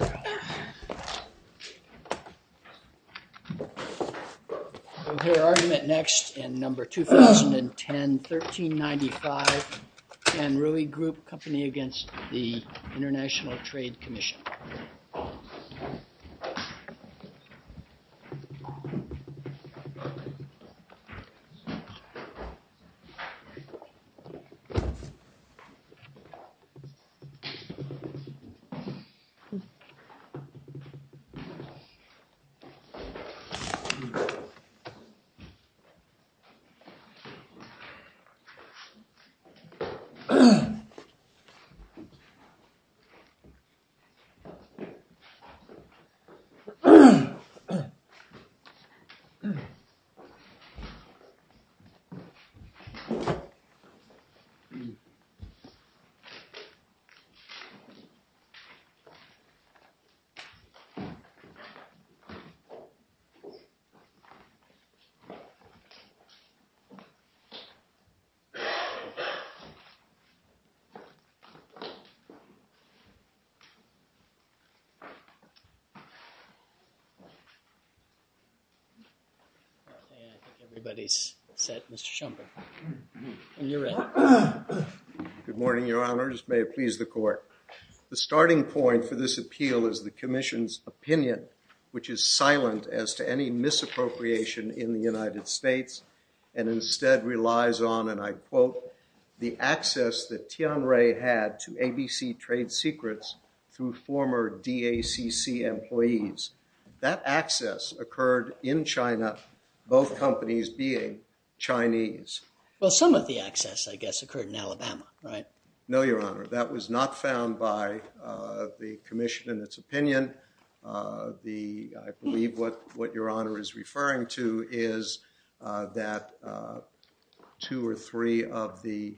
We'll hear argument next in number 2010, 1395, Anrui Group Company against the International Trade Commission. We'll hear argument next in number 2010, 1395, We'll hear argument next in number 2010, 1395, We'll hear argument next in number 2010, 1395, And I think everybody's set, Mr. Shumpert. And you're ready. Good morning, Your Honors. May it please the Court. The starting point for this appeal is the Commission's opinion, which is silent as to any misappropriation in the United States, and instead relies on, and I quote, the access that Tian Rui had to ABC trade secrets through former DACC employees. That access occurred in China, both companies being Chinese. Well, some of the access, I guess, occurred in Alabama, right? No, Your Honor. That was not found by the Commission in its opinion. I believe what Your Honor is referring to is that two or three of the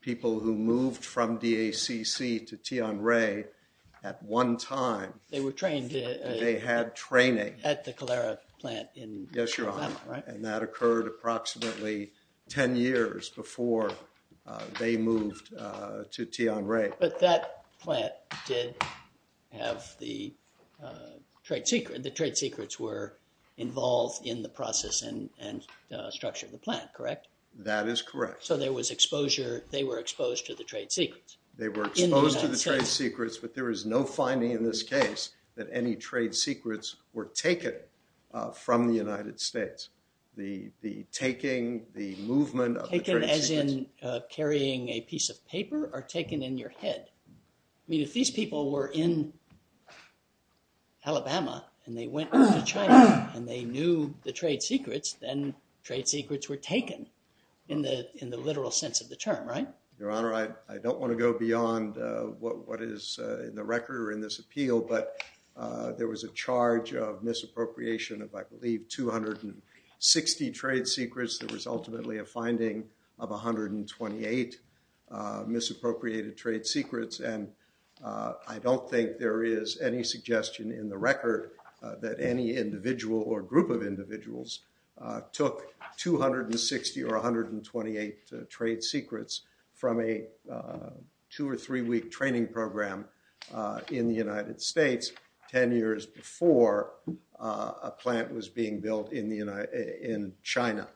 people who moved from DACC to Tian Rui at one time, they had training. At the Calera plant in Alabama, right? Yes, Your Honor. And that occurred approximately 10 years before they moved to Tian Rui. But that plant did have the trade secrets. The trade secrets were involved in the process and structure of the plant, correct? That is correct. So there was exposure. They were exposed to the trade secrets. They were exposed to the trade secrets. But there is no finding in this case that any trade secrets were taken from the United States. The taking, the movement of the trade secrets. Taken as in carrying a piece of paper or taken in your head. I mean, if these people were in Alabama and they went to China and they knew the trade secrets, then trade secrets were taken in the literal sense of the term, right? Your Honor, I don't want to go beyond what is in the record or in this appeal. But there was a charge of misappropriation of, I believe, 260 trade secrets. There was ultimately a finding of 128 misappropriated trade secrets. And I don't think there is any suggestion in the record that any individual or group of individuals took 260 or 128 trade secrets from a two or three week training program in the United States 10 years before a plant was being built in China.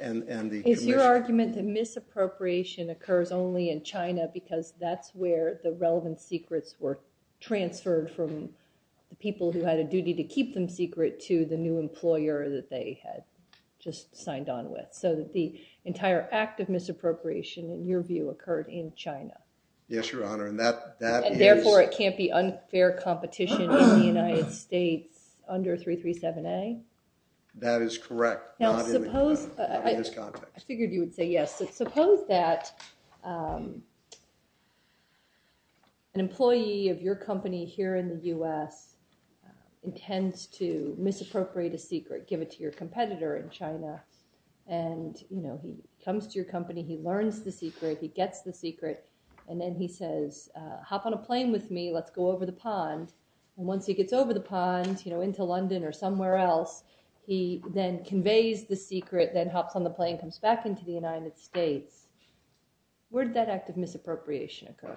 And the commission. Is your argument that misappropriation occurs only in China because that's where the relevant secrets were transferred from the people who had a duty to keep them secret to the new employer that they had just signed on with? So that the entire act of misappropriation, in your view, occurred in China. Yes, Your Honor. And that is. Or it can't be unfair competition in the United States under 337A? That is correct. Not in this context. I figured you would say yes. Suppose that an employee of your company here in the US intends to misappropriate a secret, give it to your competitor in China. And he comes to your company. He learns the secret. He gets the secret. And then he says, hop on a plane with me. Let's go over the pond. And once he gets over the pond, into London or somewhere else, he then conveys the secret, then hops on the plane, comes back into the United States. Where did that act of misappropriation occur?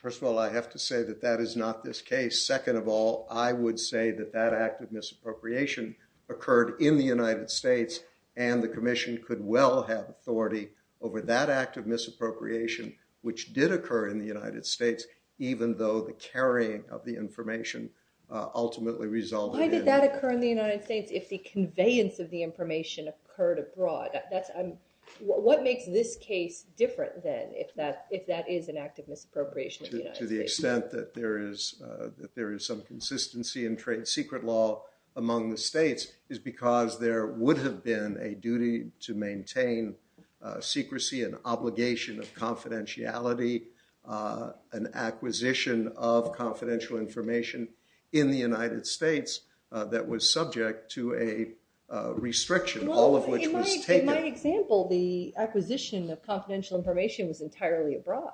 First of all, I have to say that that is not this case. Second of all, I would say that that act of misappropriation occurred in the United States. And the commission could well have authority over that act of misappropriation, which did occur in the United States, even though the carrying of the information ultimately resulted in it. Why did that occur in the United States if the conveyance of the information occurred abroad? What makes this case different, then, if that is an act of misappropriation in the United States? To the extent that there is some consistency in trade secret law among the states is because there would have been a duty to maintain secrecy, an obligation of confidentiality, an acquisition of confidential information in the United States that was subject to a restriction, all of which was taken. In my example, the acquisition of confidential information was entirely abroad.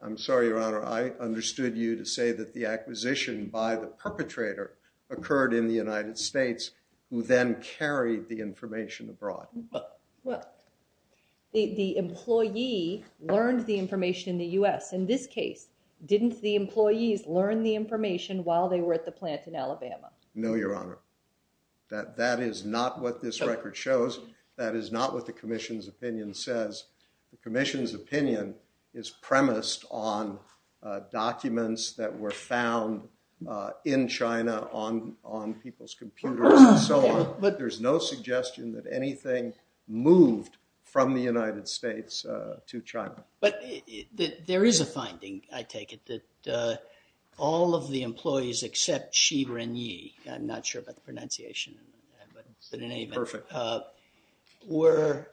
I'm sorry, Your Honor. I understood you to say that the acquisition by the perpetrator occurred in the United States, who then carried the information abroad. Well, the employee learned the information in the US. In this case, didn't the employees learn the information while they were at the plant in Alabama? No, Your Honor. That is not what this record shows. That is not what the commission's opinion says. The commission's opinion is premised on documents that were found in China on people's computers and so on. But there's no suggestion that anything moved from the United States to China. But there is a finding, I take it, that all of the employees except Xi Renyi, I'm not sure about the pronunciation, but in any event, were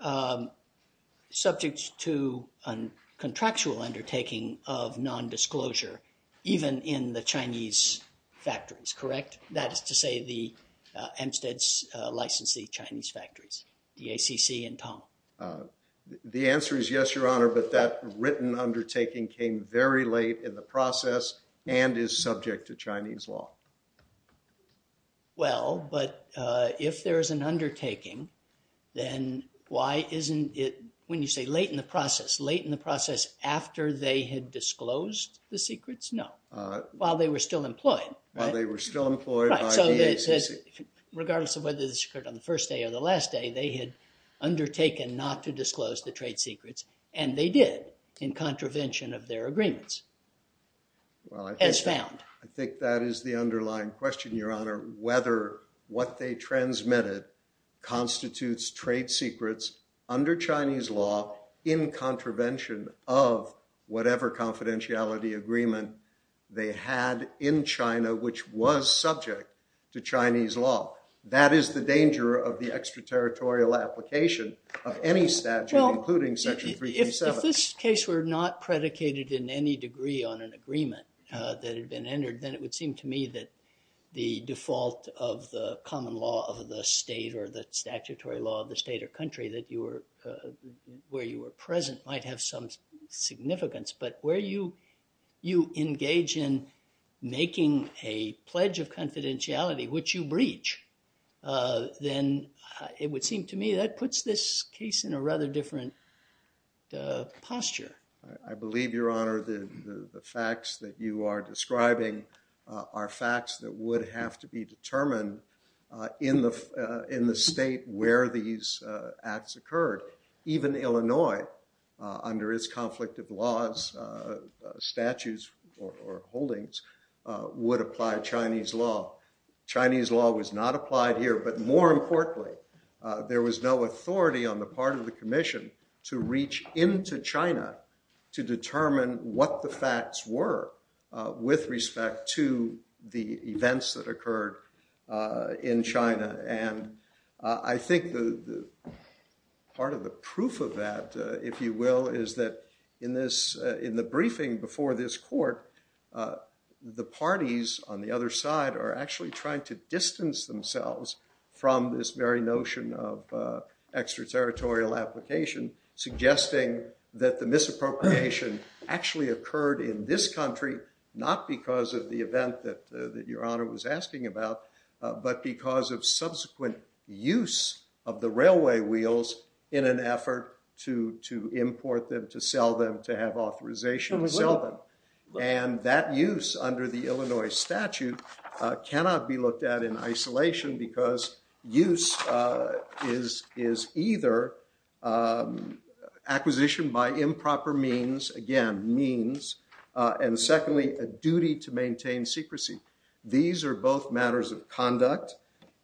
subject to a contractual undertaking of nondisclosure even in the Chinese factories, correct? That is to say, the Amsteds licensed the Chinese factories, the ACC and Tong. The answer is yes, Your Honor. But that written undertaking came very late in the process and is subject to Chinese law. Well, but if there is an undertaking, then why isn't it, when you say late in the process, late in the process after they had disclosed the secrets? No. While they were still employed. While they were still employed by the ACC. Regardless of whether this occurred on the first day or the last day, they had undertaken not to disclose the trade secrets. And they did in contravention of their agreements, as found. I think that is the underlying question, Your Honor. Whether what they transmitted constitutes trade secrets under Chinese law in contravention of whatever confidentiality agreement they had in China, which was subject to Chinese law. That is the danger of the extraterritorial application of any statute, including Section 337. Well, if this case were not predicated in any degree on an agreement that had been entered, then it would seem to me that the default of the common law of the state or the statutory law of the state or country where you were present might have some significance. But where you engage in making a pledge of confidentiality, which you breach, then it would seem to me that puts this case in a rather different posture. I believe, Your Honor, the facts that you are describing are facts that would have to be determined in the state where these acts occurred. Even Illinois, under its conflict of laws, statutes, or holdings, would apply Chinese law. Chinese law was not applied here. But more importantly, there was no authority on the part of the commission to reach into China to determine what the facts were with respect to the events that occurred in China. And I think part of the proof of that, if you will, is that in the briefing before this court, the parties on the other side are actually trying to distance themselves from this very notion of extraterritorial application, suggesting that the misappropriation actually occurred in this country, not because of the event that Your Honor was asking about, but because of subsequent use of the railway wheels in an effort to import them, to sell them, to have authorization to sell them. And that use, under the Illinois statute, cannot be looked at in isolation, because use is either acquisition by improper means, again, means, and secondly, a duty to maintain secrecy. These are both matters of conduct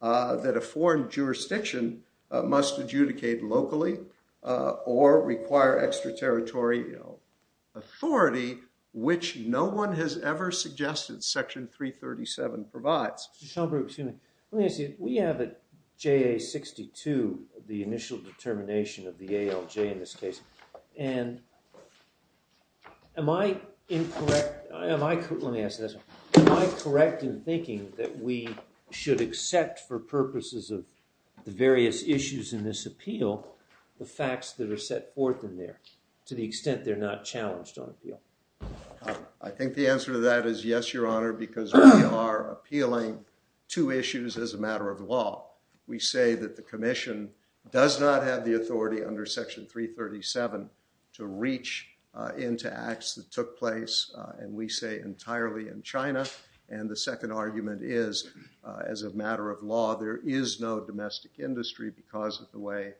that a foreign jurisdiction must adjudicate locally or require extraterritorial authority, which no one has ever suggested Section 337 provides. Mr. Schomburg, excuse me. Let me ask you, we have a JA-62, the initial determination of the ALJ in this case. And am I incorrect? Let me ask this one. Am I correct in thinking that we should accept for purposes of the various issues in this appeal the facts that are set forth in there, to the extent they're not challenged on appeal? I think the answer to that is yes, Your Honor, because we are appealing two issues as a matter of law. We say that the commission does not have the authority under Section 337 to reach into acts that took place, and we say, entirely in China. And the second argument is, as a matter of law, there is no domestic industry because of the way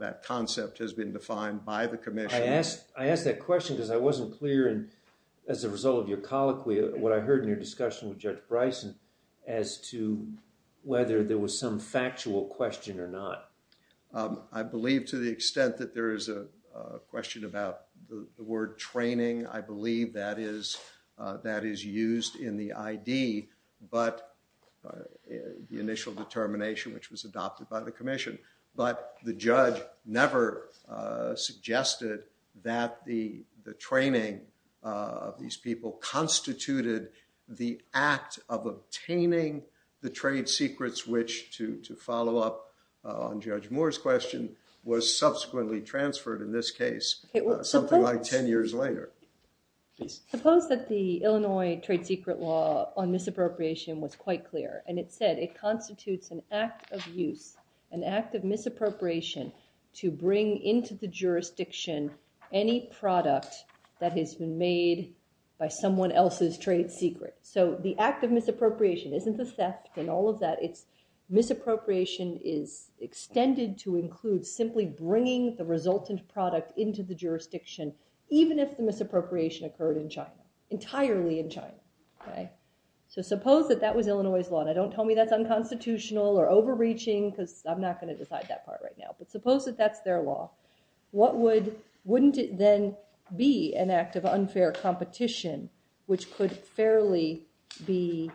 that concept has been defined by the commission. I ask that question because I wasn't clear, as a result of your colloquy, what I heard in your discussion with Judge Bryson as to whether there was some factual question or not. I believe, to the extent that there is a question about the word training, I believe that is used in the ID, but the initial determination, which was adopted by the commission. But the judge never suggested that the training of these people constituted the act of obtaining the trade secrets, which, to follow up on Judge Moore's question, was subsequently transferred in this case, something like 10 years later. Suppose that the Illinois trade secret law on misappropriation was quite clear, and it said, it constitutes an act of use, an act of misappropriation, to bring into the jurisdiction any product that has been made by someone else's trade secret. So the act of misappropriation isn't the theft and all of that, it's misappropriation is extended to include simply bringing the resultant product into the jurisdiction, even if the misappropriation occurred in China, entirely in China. So suppose that that was Illinois' law, and don't tell me that's unconstitutional or overreaching, because I'm not going to decide that part right now. But suppose that that's their law, what would, wouldn't it then be an act of unfair competition, which could fairly be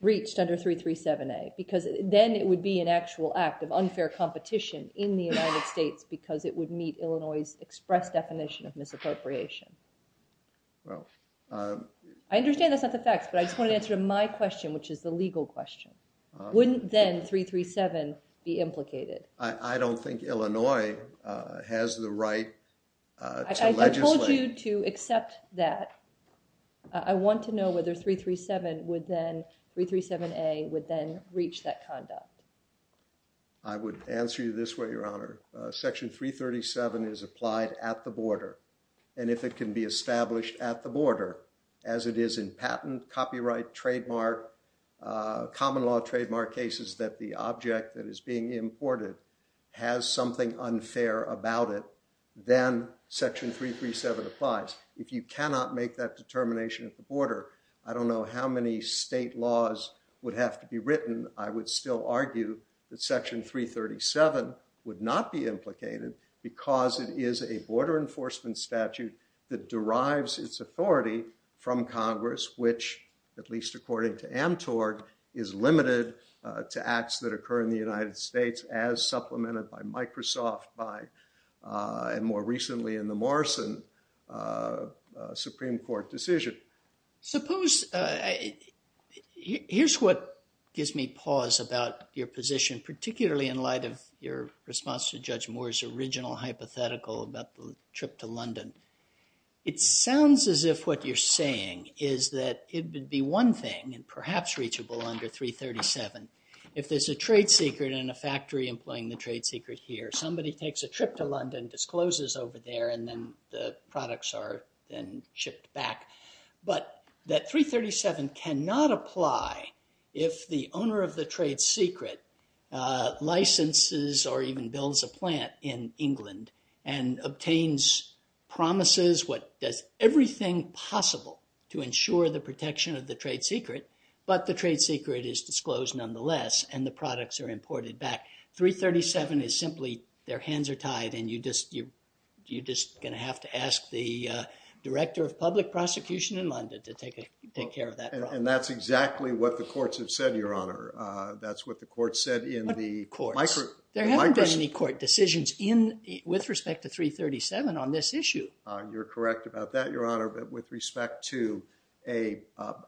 reached under 337A, because then it would be an actual act of unfair competition in the United States, because it would meet Illinois' express definition of misappropriation? Well, um. I understand that's not the facts, but I just want to answer my question, which is the legal question. Wouldn't then 337 be implicated? I don't think Illinois has the right to legislate. I told you to accept that. I want to know whether 337 would then, 337A, would then reach that conduct. I would answer you this way, Your Honor. Section 337 is applied at the border. And if it can be established at the border, as it is in patent, copyright, trademark, common law trademark cases that the object that is being imported has something unfair about it, then section 337 applies. If you cannot make that determination at the border, I don't know how many state laws would have to be written. I would still argue that section 337 would not be implicated, because it is a border enforcement statute that derives its authority from Congress, which, at least according to Amtorg, is limited to acts that occur in the United States, as supplemented by Microsoft, by, and more recently in the Morrison Supreme Court decision. Suppose, here's what gives me pause about your position, particularly in light of your response to Judge Moore's original hypothetical about the trip to London. It sounds as if what you're saying is that it would be one thing, and perhaps reachable under 337, if there's a trade secret in a factory employing the trade secret here. Somebody takes a trip to London, discloses over there, and then the products are then shipped back. But that 337 cannot apply if the owner of the trade secret licenses, or even builds a plant in England, and obtains promises, does everything possible to ensure the protection of the trade secret, but the trade secret is disclosed nonetheless, and the products are imported back. 337 is simply, their hands are tied, and you're just going to have to ask the Director of Public Prosecution in London to take care of that problem. And that's exactly what the courts have said, Your Honor. That's what the court said in the Microsoft. There haven't been any court decisions with respect to 337 on this issue. You're correct about that, Your Honor. But with respect to a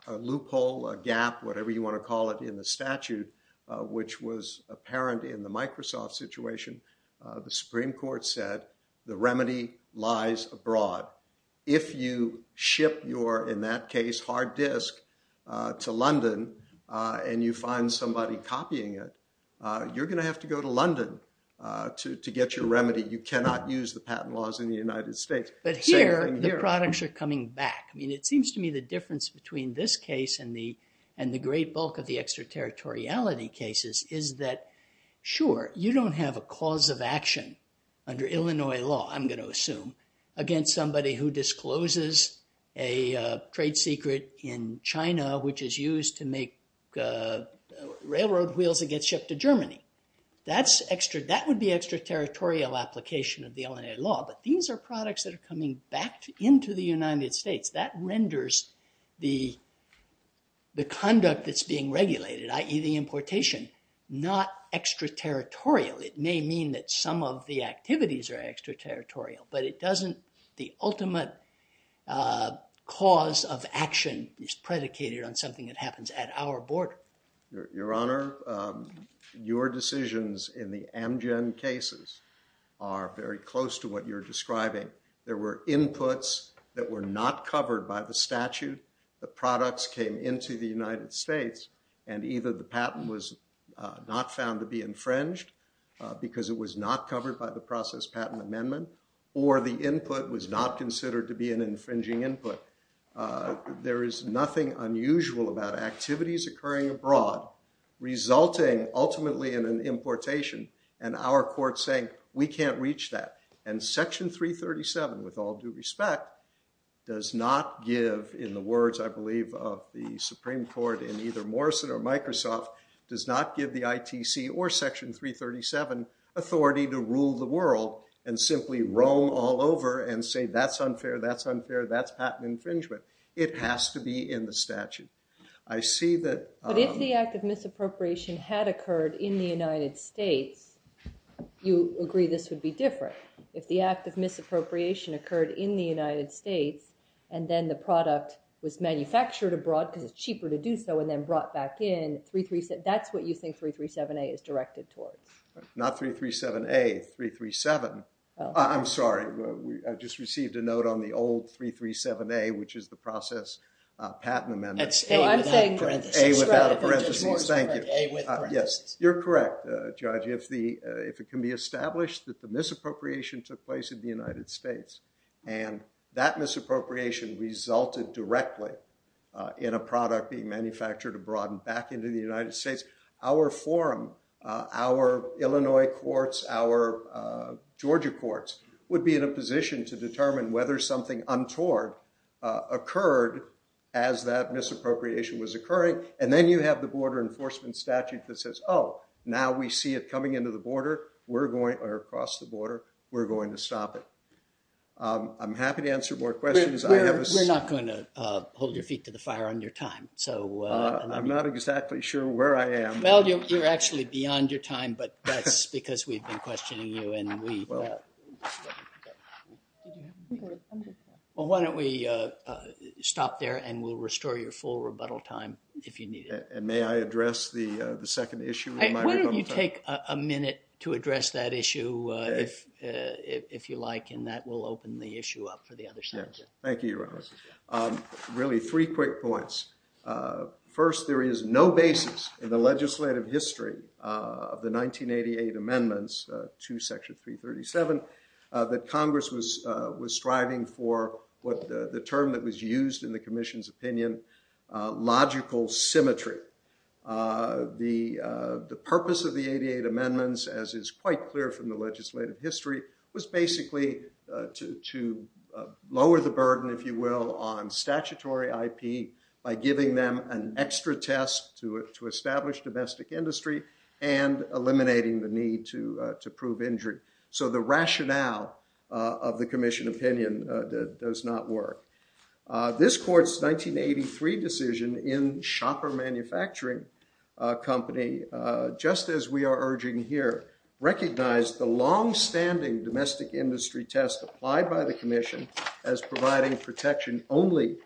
loophole, a gap, whatever you want to call it in the statute, which was apparent in the Microsoft situation, the Supreme Court said the remedy lies abroad. If you ship your, in that case, hard disk to London, and you find somebody copying it, you're going to have to go to London to get your remedy. You cannot use the patent laws in the United States. But here, the products are coming back. I mean, it seems to me the difference between this case and the great bulk of the extraterritoriality cases is that, sure, you don't have a cause of action under Illinois law, I'm going to assume, against somebody who discloses a trade secret in China, which is used to make railroad wheels that get shipped to Germany. That would be extraterritorial application of the Illinois law. But these are products that are coming back into the United States. That renders the conduct that's being regulated, i.e. the importation, not extraterritorial. It may mean that some of the activities are extraterritorial. But it doesn't, the ultimate cause of action is predicated on something that happens at our border. Your Honor, your decisions in the Amgen cases are very close to what you're describing. There were inputs that were not covered by the statute. The products came into the United States. And either the patent was not found to be infringed, because it was not covered by the process patent amendment, or the input was not considered to be an infringing input. There is nothing unusual about activities occurring abroad resulting, ultimately, in an importation, and our court saying, we can't reach that. And Section 337, with all due respect, does not give, in the words, I believe, of the Supreme Court in either Morrison or Microsoft, does not give the ITC or Section 337 authority to rule the world, and simply roam all over and say, that's unfair, that's unfair, that's patent infringement. It has to be in the statute. I see that. But if the act of misappropriation had occurred in the United States, you agree this would be different. If the act of misappropriation occurred in the United States, and then the product was manufactured abroad, because it's cheaper to do so, and then brought back in, that's what you think 337A is directed towards. Not 337A, 337. I'm sorry. I just received a note on the old 337A, which is the process patent amendment. That's A without parentheses. A without a parentheses. Thank you. Yes, you're correct, Judge. If it can be established that the misappropriation took place in the United States, and that misappropriation resulted directly in a product being manufactured abroad and back into the United States, our forum, our Illinois courts, our Georgia courts, would be in a position to determine whether something untoward occurred as that misappropriation was occurring. And then you have the border enforcement statute that says, oh, now we see it coming into the border, we're going, or across the border, we're going to stop it. I'm happy to answer more questions. We're not going to hold your feet to the fire on your time. I'm not exactly sure where I am. Well, you're actually beyond your time, but that's because we've been questioning you. And we, well, why don't we stop there and we'll restore your full rebuttal time if you need it. And may I address the second issue of my rebuttal time? Why don't you take a minute to address that issue if you like, and that will open the issue up for the other side. Thank you, Your Honor. Really, three quick points. First, there is no basis in the legislative history of the 1988 amendments to Section 337 that Congress was striving for the term that was used in the commission's opinion, logical symmetry. The purpose of the 88 amendments, as is quite clear from the legislative history, was basically to lower the burden, if you will, on statutory IP by giving them an extra test to establish domestic industry and eliminating the need to prove injury. So the rationale of the commission opinion does not work. This court's 1983 decision in shopper manufacturing company, just as we are urging here, recognized the longstanding domestic industry test applied by the commission as providing protection only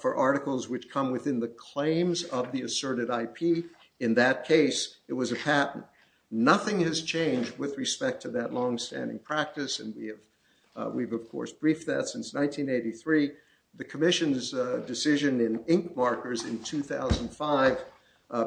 for articles which come within the claims of the asserted IP. In that case, it was a patent. Nothing has changed with respect to that longstanding practice, and we've, of course, briefed that since 1983. The commission's decision in ink markers in 2005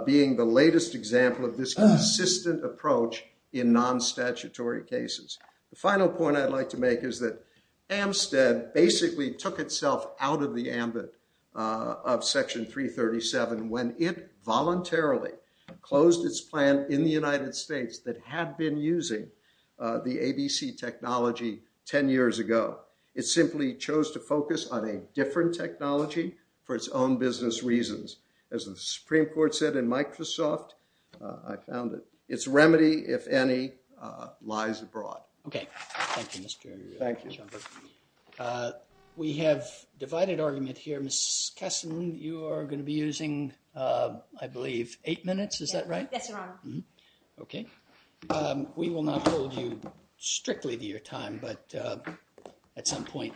being the latest example of this consistent approach in non-statutory cases. The final point I'd like to make is that Amstead basically took itself out of the ambit of Section 337 when it voluntarily closed its plan in the United States that had been using the ABC technology 10 years ago. It simply chose to focus on a different technology for its own business reasons. As the Supreme Court said in Microsoft, I found that its remedy, if any, lies abroad. OK, thank you, Mr. Schomburg. We have divided argument here. Ms. Kessin, you are going to be using, I believe, eight minutes. Is that right? Yes, Your Honor. OK. We will not hold you strictly to your time, but at some point,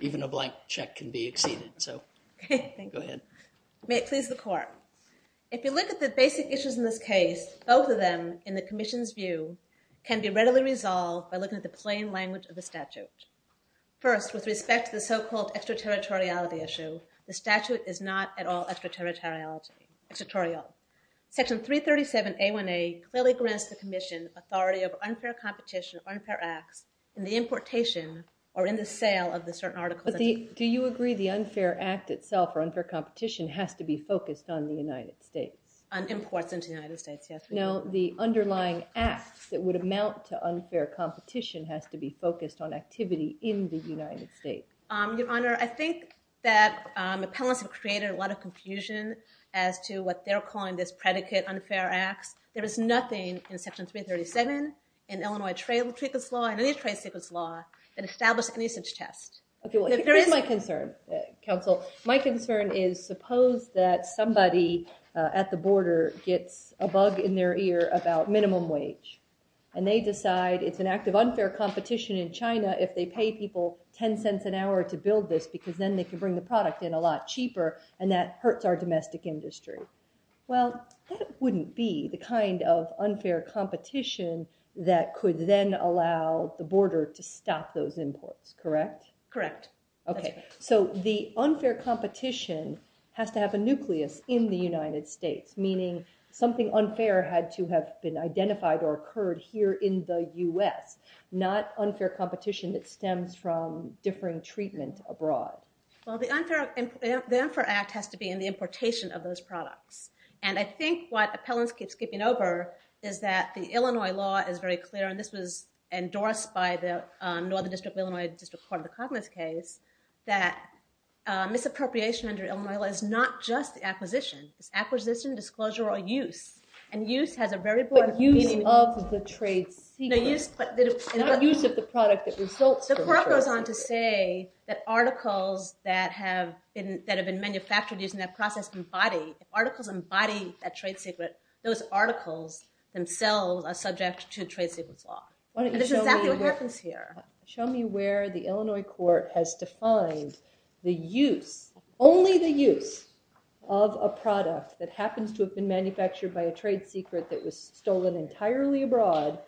even a blank check can be exceeded. So go ahead. May it please the court. If you look at the basic issues in this case, both of them, in the commission's view, can be readily resolved by looking at the plain language of the statute. First, with respect to the so-called extraterritoriality issue, the statute is not at all extraterritorial. Section 337A1A clearly grants the commission authority over unfair competition or unfair acts in the importation or in the sale of the certain articles. Do you agree the unfair act itself or unfair competition has to be focused on the United States? On imports into the United States, yes. No, the underlying act that would amount to unfair competition has to be focused on activity in the United States. Your Honor, I think that the appellants have created a lot of confusion as to what they're calling this predicate unfair acts. There is nothing in Section 337 in Illinois trade secrets law, in any trade secrets law, that establish any such test. OK, well, here's my concern, counsel. My concern is, suppose that somebody at the border gets a bug in their ear about minimum wage, and they decide it's an act of unfair competition in China if they pay people $0.10 an hour to build this, because then they can bring the product in a lot cheaper, and that hurts our domestic industry. Well, that wouldn't be the kind of unfair competition that could then allow the border to stop those imports, correct? Correct. OK, so the unfair competition has to have a nucleus in the United States, meaning something unfair had to have been identified or occurred here in the US, not unfair competition that stems from differing treatment abroad. Well, the Unfair Act has to be in the importation of those products. And I think what appellants keep skipping over is that the Illinois law is very clear, and this was endorsed by the Northern District of Illinois District Court in the Cognizant case, that misappropriation under Illinois law is not just the acquisition. It's acquisition, disclosure, or use. And use has a very broad meaning. But use of the trade secret. Not use of the product that results from trade secret. The court goes on to say that articles that have been manufactured using that process embody. Articles embody that trade secret. Those articles themselves are subject to trade secrets law. And this is exactly what happens here. Show me where the Illinois court has defined the use, only the use, of a product that happens to have been manufactured by a trade secret that was stolen entirely abroad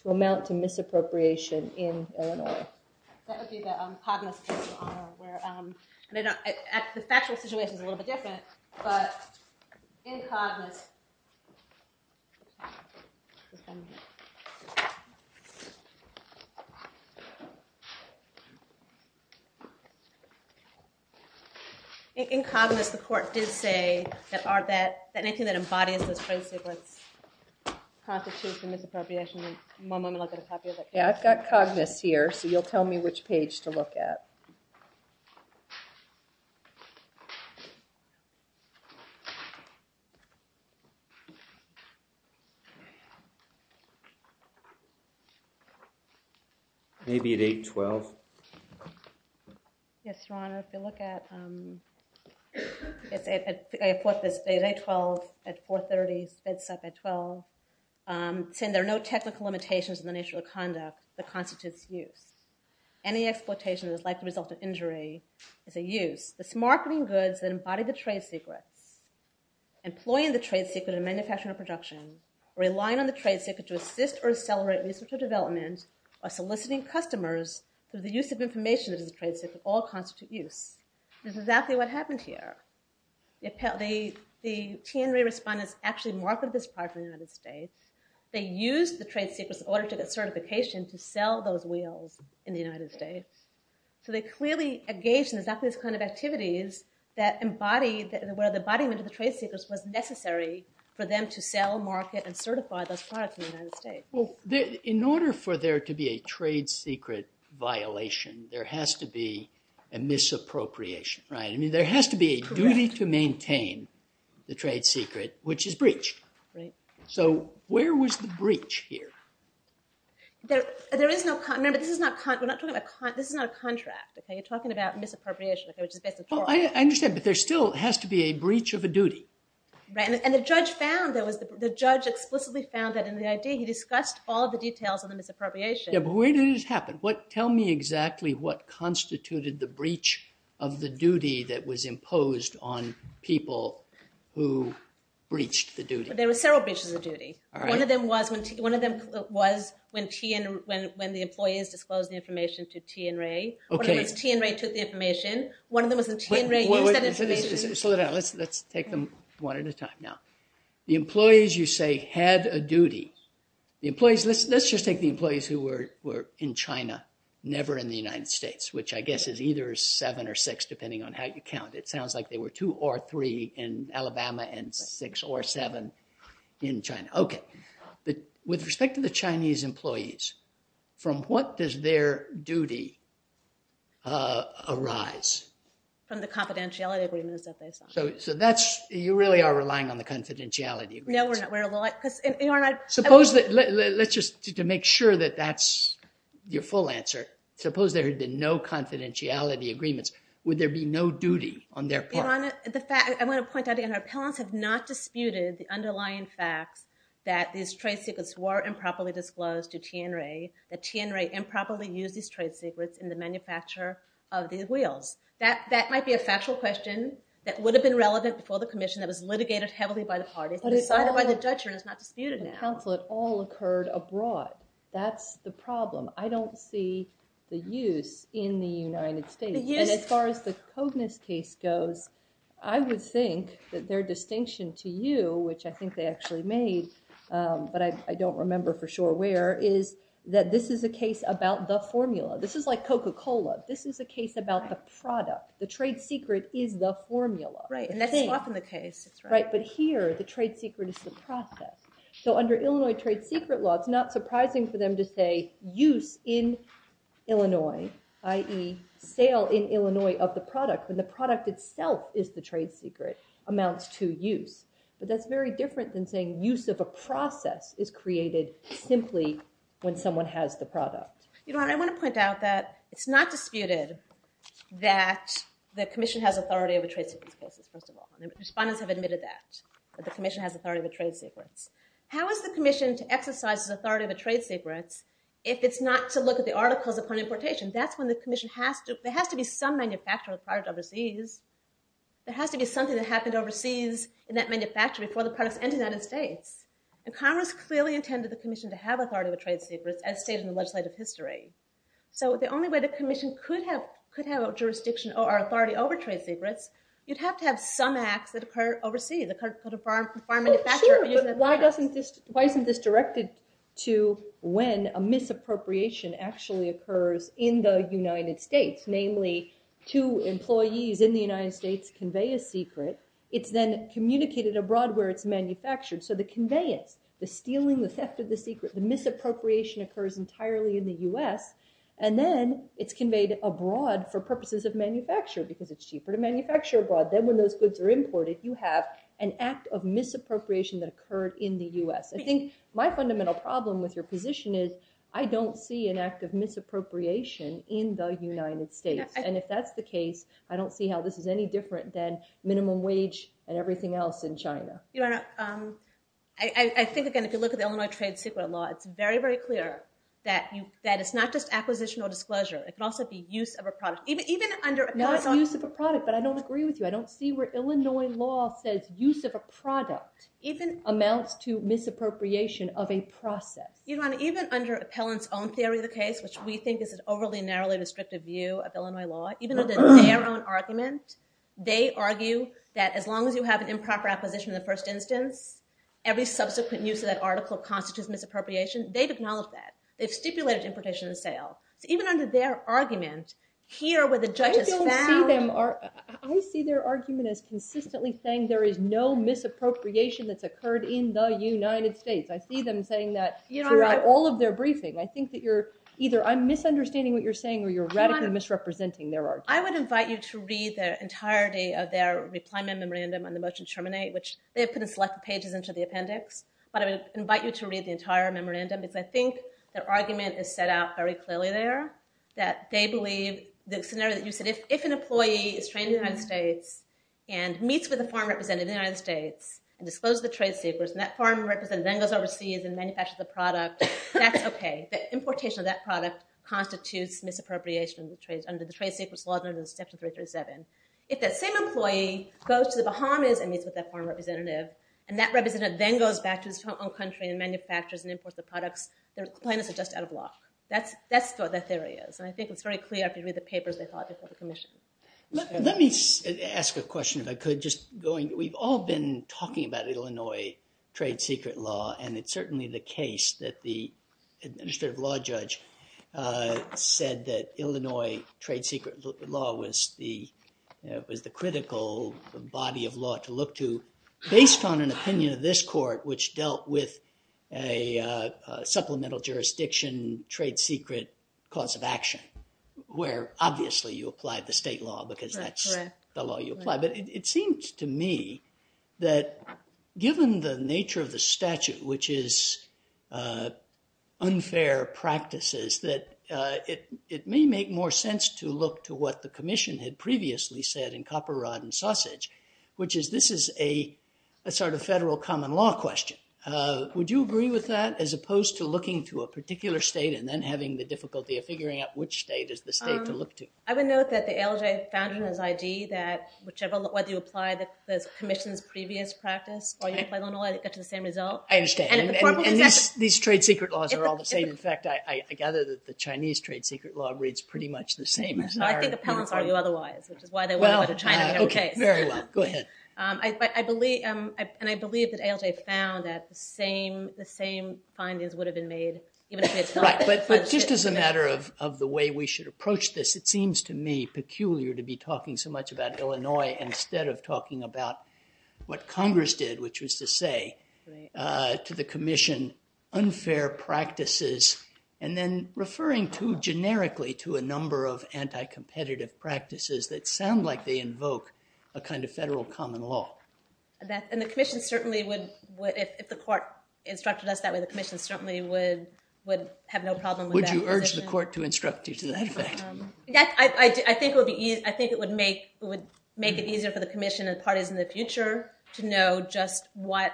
to amount to misappropriation in Illinois. That would be the Cognizant case, Your Honor, where the factual situation is a little bit different. But in Cognizant, the court did say that anything that embodies those trade secrets constitutes the misappropriation. One moment, I'll get a copy of that. Yeah, I've got Cognizant here, so you'll tell me which page to look at. OK. Maybe at 812. Yes, Your Honor, if you look at, I put this at 812, at 430, spits up at 12, saying there are no technical limitations in the nature of the conduct that constitutes use. Any exploitation that is likely to result in injury is a use. This marketing goods that embody the trade secrets, employing the trade secret in manufacturing or production, relying on the trade secret to assist or accelerate research or development, or soliciting customers through the use of information that is a trade secret all constitute use. This is exactly what happened here. The TNRA respondents actually marketed this product in the United States. They used the trade secrets in order to get certification to sell those wheels in the United States. So they clearly engaged in exactly this kind of activities where the embodiment of the trade secrets was necessary for them to sell, market, and certify those products in the United States. In order for there to be a trade secret violation, there has to be a misappropriation, right? I mean, there has to be a duty to maintain the trade secret, which is breached. So where was the breach here? There is no contract. Remember, this is not a contract. You're talking about misappropriation, which is basically fraud. Well, I understand. But there still has to be a breach of a duty. And the judge found, the judge explicitly found that in the ID, he discussed all the details of the misappropriation. Yeah, but where did it happen? Tell me exactly what constituted the breach of the duty that was imposed on people who breached the duty. There were several breaches of duty. One of them was when the employees disclosed the information to Tian Rui. One of them was Tian Rui took the information. One of them was when Tian Rui used that information. Slow it down. Let's take them one at a time now. The employees, you say, had a duty. The employees, let's just take the employees who were in China, never in the United States, which I guess is either seven or six, depending on how you count. It sounds like they were two or three in Alabama, and six or seven in China. But with respect to the Chinese employees, from what does their duty arise? From the confidentiality agreements that they signed. You really are relying on the confidentiality agreements. No, we're not. Because, Your Honor, I would say. Suppose that, let's just, to make sure that that's your full answer, suppose there had been no confidentiality agreements, would there be no duty on their part? Your Honor, I want to point out again, that appellants have not disputed the underlying facts that these trade secrets were improperly disclosed to Tian Rui, that Tian Rui improperly used these trade secrets in the manufacture of these wheels. That might be a factual question that would have been relevant before the commission that was litigated heavily by the party, but decided by the judge and is not disputed now. The consulate all occurred abroad. That's the problem. I don't see the use in the United States. And as far as the Cogniz case goes, I would think that their distinction to you, which I think they actually made, but I don't remember for sure where, is that this is a case about the formula. This is like Coca-Cola. This is a case about the product. The trade secret is the formula. Right, and that's often the case. Right, but here, the trade secret is the process. So under Illinois trade secret law, it's not surprising for them to say use in Illinois, i.e. sale in Illinois of the product, when the product itself is the trade secret, amounts to use. But that's very different than saying use of a process is created simply when someone has the product. I want to point out that it's not disputed that the commission has authority over trade secrets policies, first of all. Respondents have admitted that, that the commission has authority over trade secrets. How is the commission to exercise its authority over trade secrets if it's not to look at the articles upon importation? That's when the commission has to. There has to be some manufacturer of the product overseas. There has to be something that happened overseas in that manufacturer before the products entered United States. And Congress clearly intended the commission to have authority over trade secrets as stated in the legislative history. So the only way the commission could have jurisdiction or authority over trade secrets, you'd have to have some acts that occur overseas. The farm manufacturer using the products. Sure, but why isn't this directed to when a misappropriation actually occurs in the United States? Namely, two employees in the United States convey a secret. It's then communicated abroad where it's manufactured. So the conveyance, the stealing, the theft of the secret, the misappropriation occurs entirely in the US. And then it's conveyed abroad for purposes of manufacture because it's cheaper to manufacture abroad. Then when those goods are imported, you have an act of misappropriation that occurred in the US. I think my fundamental problem with your position is I don't see an act of misappropriation in the United States. And if that's the case, I don't see how this is any different than minimum wage and everything else in China. I think, again, if you look at the Illinois trade secret law, it's very, very clear that it's not just acquisition or disclosure. It can also be use of a product. Even under a contract. Not use of a product, but I don't agree with you. I don't see where Illinois law says use of a product amounts to misappropriation of a process. Even under Appellant's own theory of the case, which we think is an overly narrowly restrictive view of Illinois law, even under their own argument, they argue that as long as you have an improper acquisition in the first instance, every subsequent use of that article constitutes misappropriation. They've acknowledged that. They've stipulated importation and sale. Even under their argument, here where the judge has found. I see their argument as consistently saying there is no misappropriation that's occurred in the United States. I see them saying that throughout all of their briefing. I think that you're either, I'm misunderstanding what you're saying, or you're radically misrepresenting their argument. I would invite you to read the entirety of their reply memorandum on the motion to terminate, which they have put in selected pages into the appendix. But I would invite you to read the entire memorandum, because I think their argument is set out very clearly there. That they believe the scenario that you said, if an employee is trained in the United States and meets with a foreign representative in the United States and discloses the trade secrets, and that foreign representative then goes overseas and manufactures the product, that's OK. The importation of that product constitutes misappropriation under the trade secrets laws under Section 337. If that same employee goes to the Bahamas and meets with that foreign representative, and that representative then goes back to his home country and manufactures and imports the products, their claimants are just out of luck. That's what that theory is. And I think it's very clear if you read the papers they thought before the commission. Let me ask a question, if I could. We've all been talking about Illinois trade secret law, and it's certainly the case that the administrative law judge said that Illinois trade secret law was the critical body of law to look to based on an opinion of this court, which dealt with a supplemental jurisdiction trade secret cause of action, where obviously you applied the state law, because that's the law you apply. But it seems to me that given the nature of the statute, which is unfair practices, that it may make more sense to look to what the commission had previously said in Copper, Rod, and Sausage, which is this is a sort of federal common law question. Would you agree with that, as opposed to looking to a particular state and then having the difficulty of figuring out which state is the state to look to? I would note that the ALJ found in his ID that whichever, whether you apply the commission's previous practice, or you apply Illinois, it gets the same result. I understand. And these trade secret laws are all the same. In fact, I gather that the Chinese trade secret law reads pretty much the same as ours. I think appellants argue otherwise, which is why they went over to China to have a case. Very well. Go ahead. And I believe that ALJ found that the same findings would have been made, even if they had not. Just as a matter of the way we should approach this, it seems to me peculiar to be talking so much about Illinois instead of talking about what Congress did, which was to say to the commission unfair practices, and then referring too generically to a number of anti-competitive practices that sound like they invoke a kind of federal common law. And the commission certainly would, if the court instructed us that way, the commission certainly would have no problem with that. Would you urge the court to instruct you to that effect? I think it would make it easier for the commission and parties in the future to know just what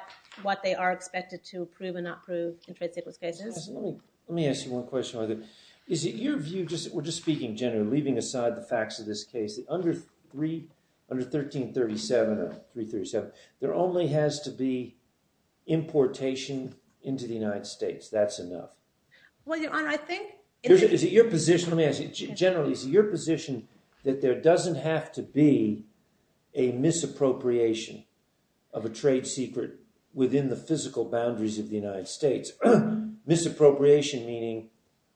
they are expected to approve and not approve in trade secret cases. Let me ask you one question. Is it your view, we're just speaking generally, leaving aside the facts of this case, that under 1337, there only has to be importation into the United States? That's enough? Well, your honor, I think it is. Is it your position? Generally, is it your position that there doesn't have to be a misappropriation of a trade secret within the physical boundaries of the United States? Misappropriation meaning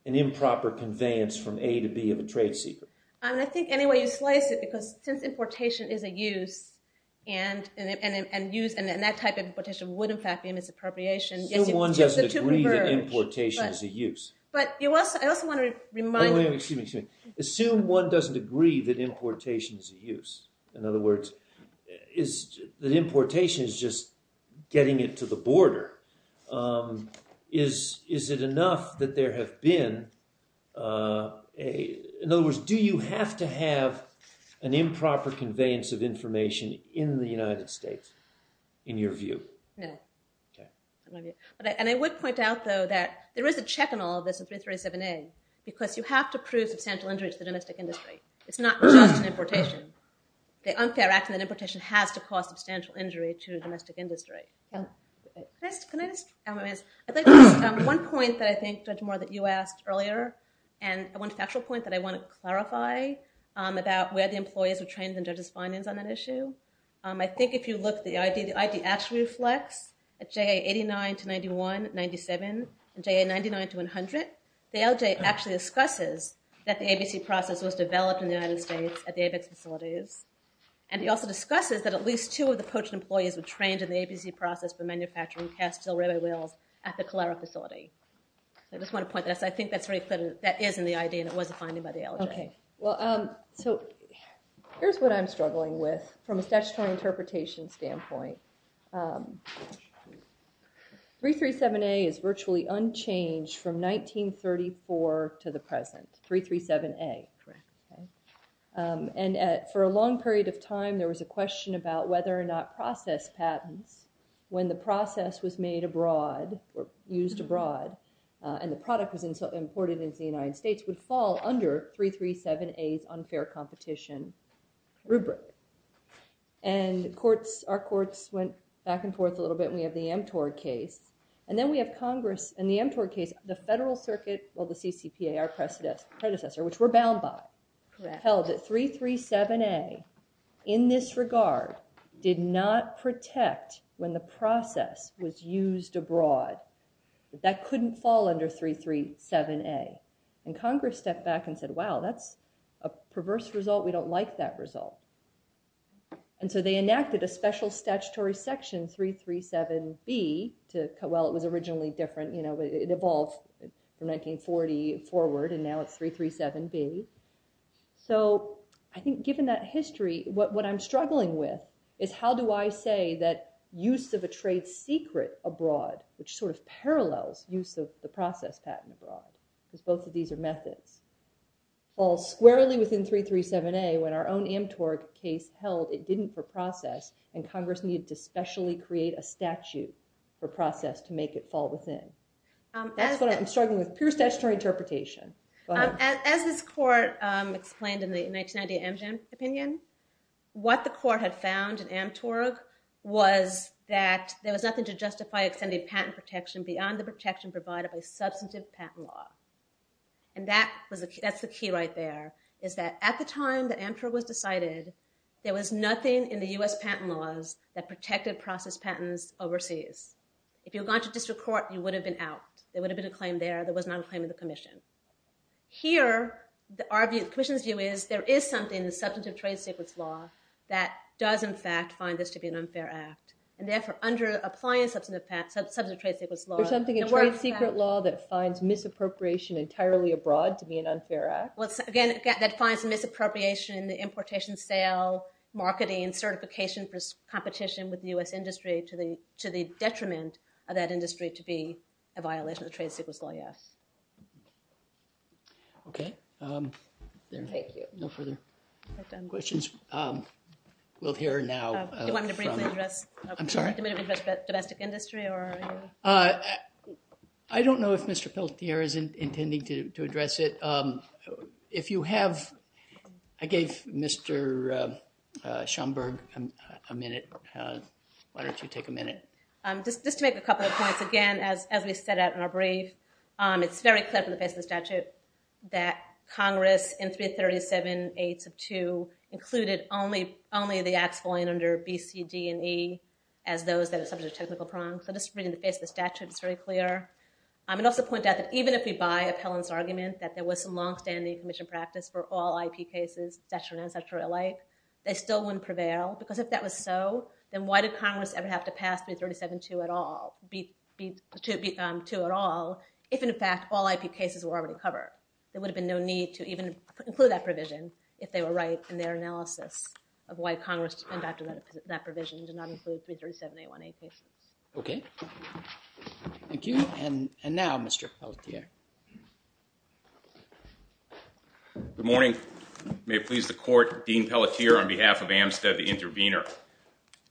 an improper conveyance from A to B of a trade secret. I think any way you slice it, because since importation is a use, and that type of importation would, in fact, be a misappropriation. Still, one doesn't agree that importation is a use. But I also want to remind you. Oh, excuse me. Assume one doesn't agree that importation is a use. In other words, that importation is just getting it to the border. Is it enough that there have been, in other words, do you have to have an improper conveyance of information in the United States, in your view? No. And I would point out, though, that there is a check on all of this in 337A, because you have to prove substantial injury to the domestic industry. It's not just an importation. The unfair act in that importation has to cause substantial injury to the domestic industry. Chris, can I just add one point that I think, Judge Moore, that you asked earlier? And one factual point that I want to clarify about where the employees are trained in judges' findings on that issue. I think if you look at the ID-attribute flex, at JA 89 to 91, 97, and JA 99 to 100, the LJ actually discusses that the ABC process was developed in the United States at the ABEX facilities. And he also discusses that at least two of the poached employees were trained in the ABC process for manufacturing Castile railway wheels at the Calera facility. I just want to point that out, because I think that's very clear that that is in the ID and it was a finding by the LJ. OK. Well, so here's what I'm struggling with from a statutory interpretation standpoint. 337A is virtually unchanged from 1934 to the present, 337A. And for a long period of time, there was a question about whether or not process patents, when the process was made abroad or used abroad and the product was imported into the United States, would fall under 337A's unfair competition rubric. And our courts went back and forth a little bit. And we have the mTOR case. And then we have Congress. In the mTOR case, the federal circuit, or the CCPA, our predecessor, which we're bound by, held that 337A in this regard did not protect when the process was used abroad. That couldn't fall under 337A. And Congress stepped back and said, wow, that's a perverse result. We don't like that result. And so they enacted a special statutory section, 337B, to, well, it was originally different. It evolved from 1940 forward. And now it's 337B. So I think given that history, what I'm struggling with is how do I say that use of a trade secret abroad, which sort of parallels use of the process patent abroad, because both of these are methods, falls squarely within 337A when our own mTOR case held it didn't for process, and Congress needed to specially create a statute for process to make it fall within. That's what I'm struggling with, pure statutory interpretation. As this court explained in the 1990 Amgen opinion, what the court had found in mTOR was that there was nothing to justify extended patent protection beyond the protection provided by substantive patent law. And that's the key right there, is that at the time that mTOR was decided, there was nothing in the US patent laws that protected process patents overseas. If you had gone to district court, you would have been out. There would have been a claim there. There was not a claim in the commission. Here, the commission's view is there is something in the substantive trade secrets law that does, in fact, find this to be an unfair act. And therefore, under applying substantive trade secrets law, there's something in trade secret law that finds misappropriation entirely abroad to be an unfair act. Again, that finds misappropriation in the importation, sale, marketing, and certification for competition with the US industry to the detriment of that industry to be a violation of the trade secrets law, yes. OK. Thank you. No further questions. We'll hear now from the domestic industry. I don't know if Mr. Pelletier is intending to address it. If you have, I gave Mr. Schomburg a minute. Why don't you take a minute? Just to make a couple of points. Again, as we set out in our brief, it's very clear from the base of the statute that Congress in 337, 8, sub 2, included only the acts falling under B, C, D, and E as those that are subject to technical prongs. So just reading the base of the statute, it's very clear. I would also point out that even if we buy Appellant's argument that there was some longstanding commission practice for all IP cases, statutory and unstatutory alike, they still wouldn't prevail. Because if that was so, then why did Congress ever have to pass 337, 2 at all if, in fact, all IP cases were already covered? There would have been no need to even include that provision if they were right in their analysis of why Congress and after that provision did not include 337, 8, 1, 8 cases. OK. Thank you. And now, Mr. Pelletier. Good morning. May it please the court, Dean Pelletier on behalf of Amstead, the intervener.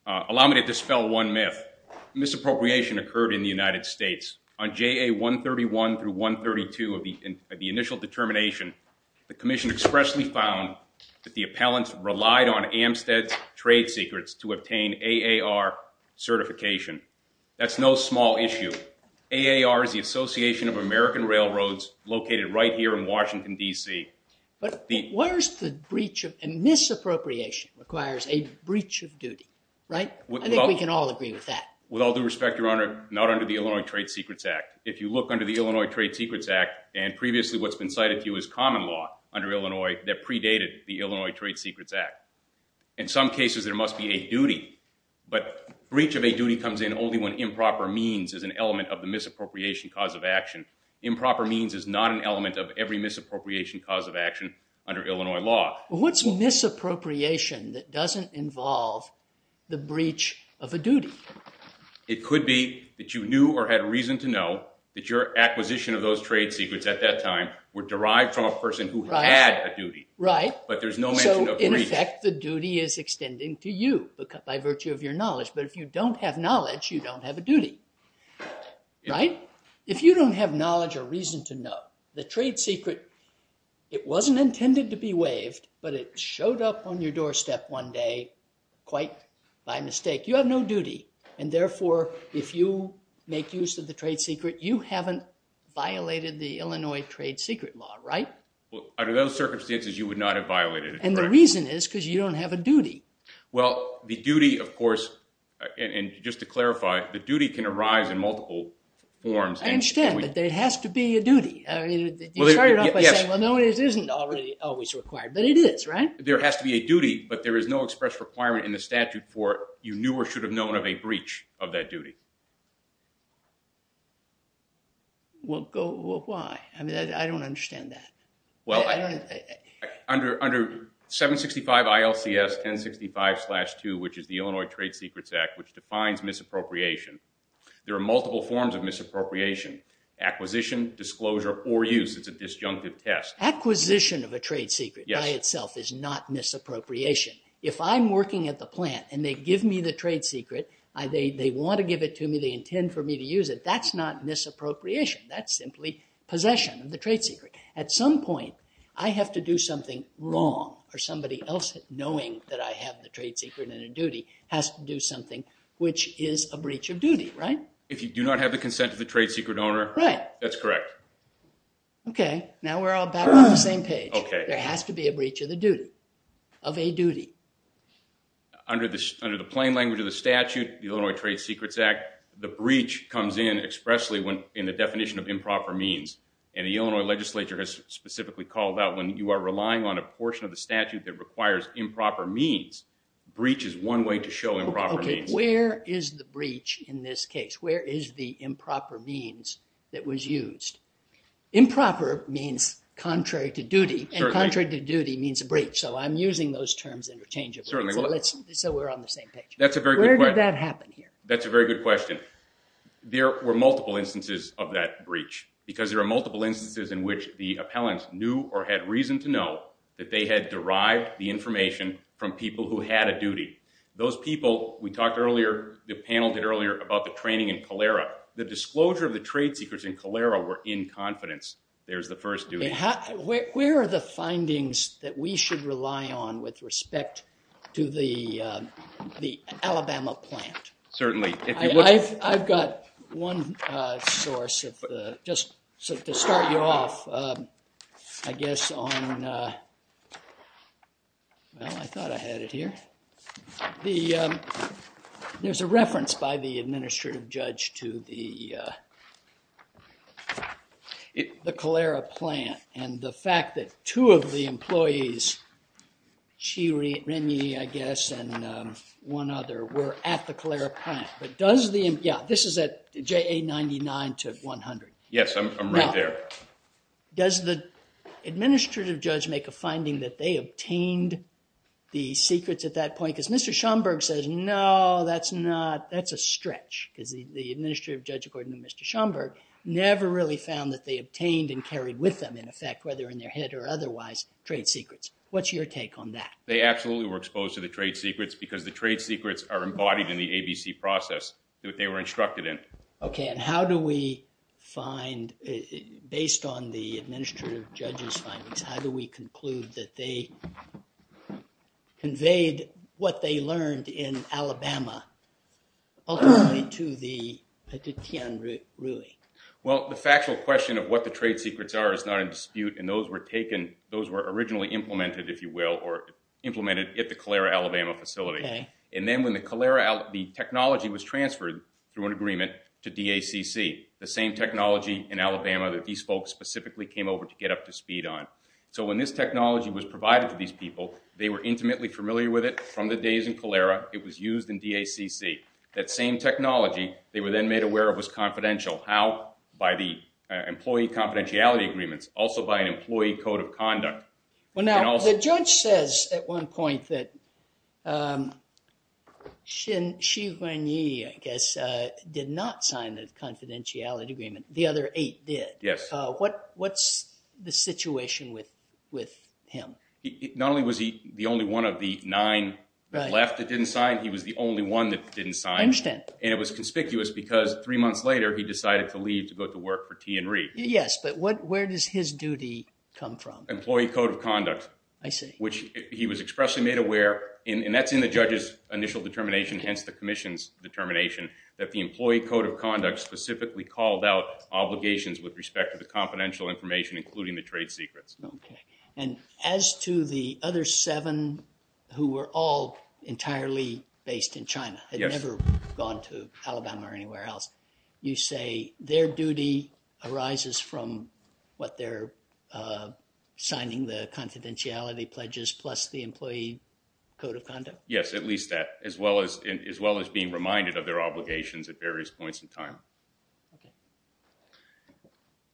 Allow me to dispel one myth. Misappropriation occurred in the United States. On JA 131 through 132 of the initial determination, the commission expressly found that the appellants relied on Amstead's trade secrets to obtain AAR certification. That's no small issue. AAR is the Association of American Railroads located right here in Washington, DC. But where's the breach of misappropriation requires a breach of duty, right? I think we can all agree with that. With all due respect, Your Honor, not under the Illinois Trade Secrets Act. If you look under the Illinois Trade Secrets Act, and previously what's been cited to you is common law under Illinois that predated the Illinois Trade Secrets Act. In some cases, there must be a duty. But breach of a duty comes in only when improper means is an element of the misappropriation cause of action. Improper means is not an element of every misappropriation cause of action under Illinois law. What's misappropriation that doesn't involve the breach of a duty? It could be that you knew or had reason at that time were derived from a person who had a duty. But there's no mention of a breach. In effect, the duty is extending to you by virtue of your knowledge. But if you don't have knowledge, you don't have a duty. If you don't have knowledge or reason to know, the trade secret, it wasn't intended to be waived, but it showed up on your doorstep one day quite by mistake. You have no duty. And therefore, if you make use of the trade secret, you haven't violated the Illinois trade secret law, right? Well, under those circumstances, you would not have violated it. And the reason is because you don't have a duty. Well, the duty, of course, and just to clarify, the duty can arise in multiple forms. I understand, but there has to be a duty. You started off by saying, well, no, it isn't always required. But it is, right? There has to be a duty, but there is no express requirement in the statute for you knew or should have known of a breach of that duty. Well, why? I don't understand that. Well, under 765 ILCS 1065-2, which is the Illinois Trade Secrets Act, which defines misappropriation, there are multiple forms of misappropriation. Acquisition, disclosure, or use, it's a disjunctive test. Acquisition of a trade secret by itself is not misappropriation. If I'm working at the plant and they give me the trade secret, they want to give it to me, they intend for me to use it, that's not misappropriation. That's simply possession of the trade secret. At some point, I have to do something wrong, or somebody else, knowing that I have the trade secret and a duty, has to do something which is a breach of duty, right? If you do not have the consent of the trade secret owner, that's correct. OK, now we're all back on the same page. There has to be a breach of the duty, of a duty. Under the plain language of the statute, the Illinois Trade Secrets Act, the breach comes in expressly in the definition of improper means. And the Illinois legislature has specifically called out, when you are relying on a portion of the statute that requires improper means, breach is one way to show improper means. OK, where is the breach in this case? Where is the improper means that was used? Improper means contrary to duty, and contrary to duty means a breach. So I'm using those terms interchangeably. So we're on the same page. That's a very good question. Where did that happen here? That's a very good question. There were multiple instances of that breach, because there are multiple instances in which the appellants knew or had reason to know that they had derived the information from people who had a duty. Those people, we talked earlier, the panel did earlier, about the training in Calera. The disclosure of the trade secrets in Calera were in confidence. There's the first duty. Where are the findings that we should rely on with respect to the Alabama plant? I've got one source of the, just to start you off, I guess, on, well, I thought I had it here. There's a reference by the administrative judge to the Calera plant, and the fact that two of the employees, Chi Renyi, I guess, and one other were at the Calera plant. But does the, yeah, this is at JA99 to 100. Yes, I'm right there. Does the administrative judge make a finding that they obtained the secrets at that point? Because Mr. Schomburg says, no, that's a stretch. Because the administrative judge, according to Mr. Schomburg, never really found that they obtained and carried with them, in effect, whether in their head or otherwise, trade secrets. What's your take on that? They absolutely were exposed to the trade secrets, because the trade secrets are embodied in the ABC process that they were instructed in. OK, and how do we find, based on the administrative judge's findings, how do we conclude that they conveyed what they learned in Alabama, ultimately, to the petition, really? Well, the factual question of what the trade secrets are is not in dispute. And those were taken, those were originally implemented, if you will, or implemented at the Calera, Alabama facility. And then when the Calera, the technology was transferred through an agreement to DACC, the same technology in Alabama that these folks specifically came over to get up to speed on. So when this technology was provided to these people, they were intimately familiar with it from the days in Calera. It was used in DACC. That same technology, they were then made aware of was confidential. How? By the employee confidentiality agreements, also by an employee code of conduct. Well, now, the judge says, at one point, that Xi Wenyi, I guess, did not sign the confidentiality agreement. The other eight did. Yes. What's the situation with him? Not only was he the only one of the nine that left that didn't sign, he was the only one that didn't sign. I understand. And it was conspicuous, because three months later, he decided to leave to go to work for TNRE. Yes, but where does his duty come from? Employee code of conduct, which he was expressly made aware. And that's in the judge's initial determination, hence the commission's determination, that the employee code of conduct specifically called out obligations with respect to the confidential information, including the trade secrets. And as to the other seven who were all entirely based in China, had never gone to Alabama or anywhere else, you say their duty arises from what they're signing the confidentiality pledges plus the employee code of conduct? Yes, at least that, as well as being reminded of their obligations at various points in time.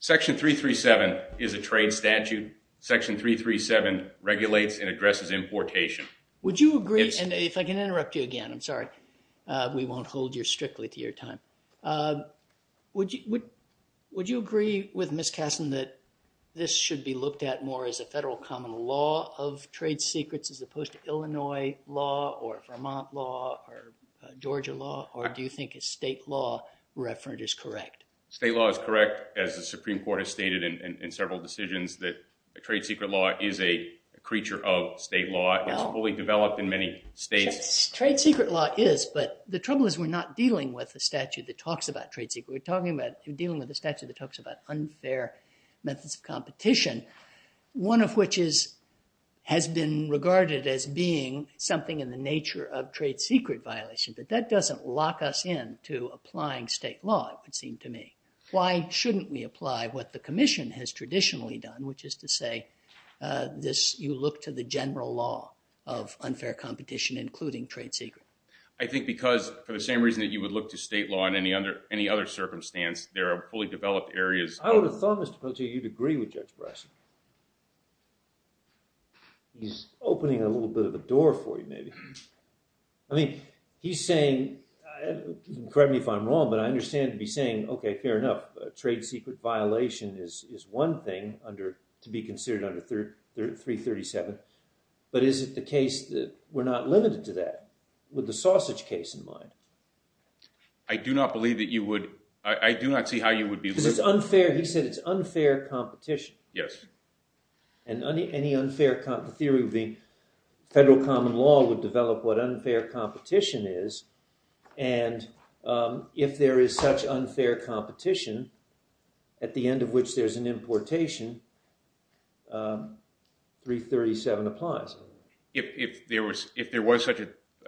Section 337 is a trade statute. Section 337 regulates and addresses importation. We won't hold you strictly to your time. Would you agree with Ms. Kasson that this should be looked at more as a federal common law of trade secrets, as opposed to Illinois law, or Vermont law, or Georgia law? Or do you think a state law referent is correct? State law is correct, as the Supreme Court has stated in several decisions, that a trade secret law is a creature of state law. It's fully developed in many states. Trade secret law is, but the trouble is we're not dealing with a statute that talks about trade secret. We're dealing with a statute that talks about unfair methods of competition, one of which has been regarded as being something in the nature of trade secret violation. But that doesn't lock us in to applying state law, it would seem to me. Why shouldn't we apply what the commission has traditionally done, which is to say, you look to the general law of unfair competition, including trade secret? I think because, for the same reason that you would look to state law in any other circumstance, there are fully developed areas. I would have thought, Mr. Pote, you'd agree with Judge Brassett. He's opening a little bit of a door for you, maybe. I mean, he's saying, correct me if I'm wrong, but I understand to be saying, OK, fair enough, trade secret violation is one thing to be considered under 337. But is it the case that we're not limited to that, with the sausage case in mind? I do not believe that you would. I do not see how you would be. He said it's unfair competition. Yes. And any unfair competition, the theory would be federal common law would develop what unfair competition is. And if there is such unfair competition, at the end of which there's an importation, 337 applies. If there was such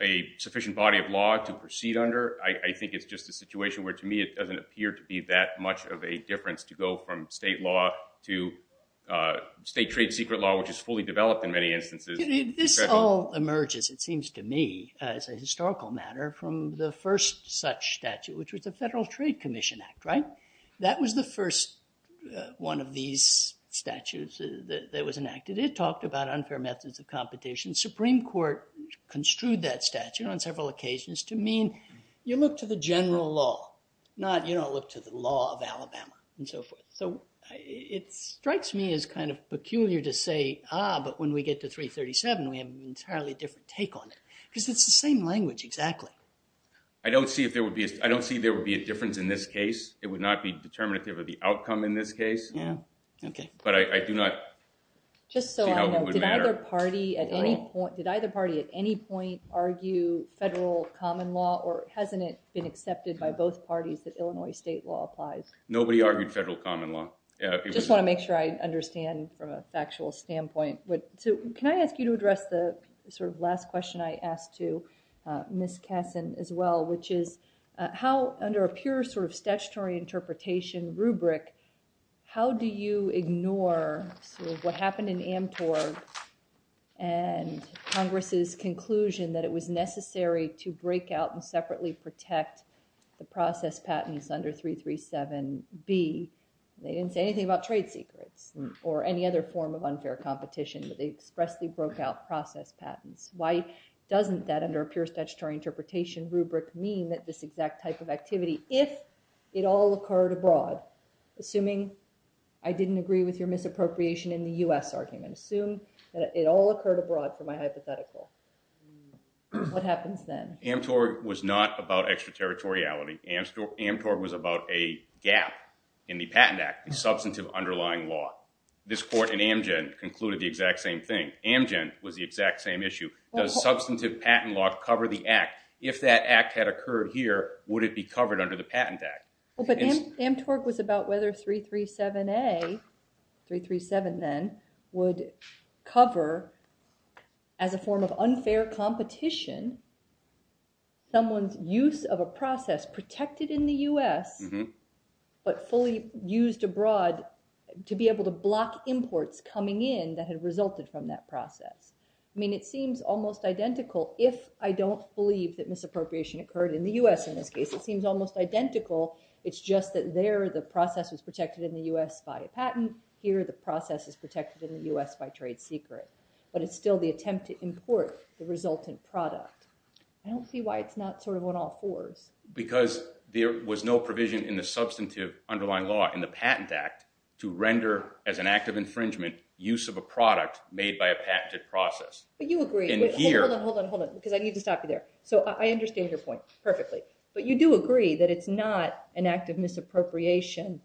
a sufficient body of law to proceed under, I think it's just a situation where, to me, it doesn't appear to be that much of a difference to go from state law to state trade secret law, which is fully developed in many instances. This all emerges, it seems to me, as a historical matter, from the first such statute, which was the Federal Trade Commission Act, right? That was the first one of these statutes that was enacted. It talked about unfair methods of competition. Supreme Court construed that statute on several occasions to mean you look to the general law, not you don't look to the law of Alabama, and so forth. So it strikes me as kind of peculiar to say, ah, but when we get to 337, we have an entirely different take on it, because it's the same language, exactly. I don't see there would be a difference in this case. It would not be determinative of the outcome in this case. But I do not see how it would matter. Did either party at any point argue federal common law, or hasn't it been accepted by both parties that Illinois state law applies? Nobody argued federal common law. Just want to make sure I understand from a factual standpoint. Can I ask you to address the sort of last question I asked to Ms. Kessin as well, which is how, under a pure sort of statutory interpretation rubric, how do you ignore what happened in Amtor and Congress's conclusion that it was necessary to break out and separately protect the process patents under 337B? They didn't say anything about trade secrets or any other form of unfair competition, but they expressly broke out process patents. Why doesn't that, under a pure statutory interpretation rubric, mean that this exact type of activity, if it all occurred abroad? Assuming I didn't agree with your misappropriation in the US argument. Assume that it all occurred abroad for my hypothetical. What happens then? Amtor was not about extraterritoriality. Amtor was about a gap in the Patent Act, the substantive underlying law. This court in Amgen concluded the exact same thing. Amgen was the exact same issue. Does substantive patent law cover the act? If that act had occurred here, would it be covered under the Patent Act? Well, but Amtor was about whether 337A, 337 then, would cover, as a form of unfair competition, someone's use of a process protected in the US, but fully used abroad to be able to block imports coming in that had resulted from that process. I mean, it seems almost identical. If I don't believe that misappropriation occurred in the US in this case, it seems almost identical. It's just that there, the process was protected in the US by a patent. Here, the process is protected in the US by trade secret. But it's still the attempt to import the resultant product. I don't see why it's not sort of on all fours. Because there was no provision in the substantive underlying law in the Patent Act to render, as an act of infringement, use of a product made by a patented process. But you agree. Hold on, hold on, hold on, because I need to stop you there. So I understand your point perfectly. But you do agree that it's not an act of misappropriation.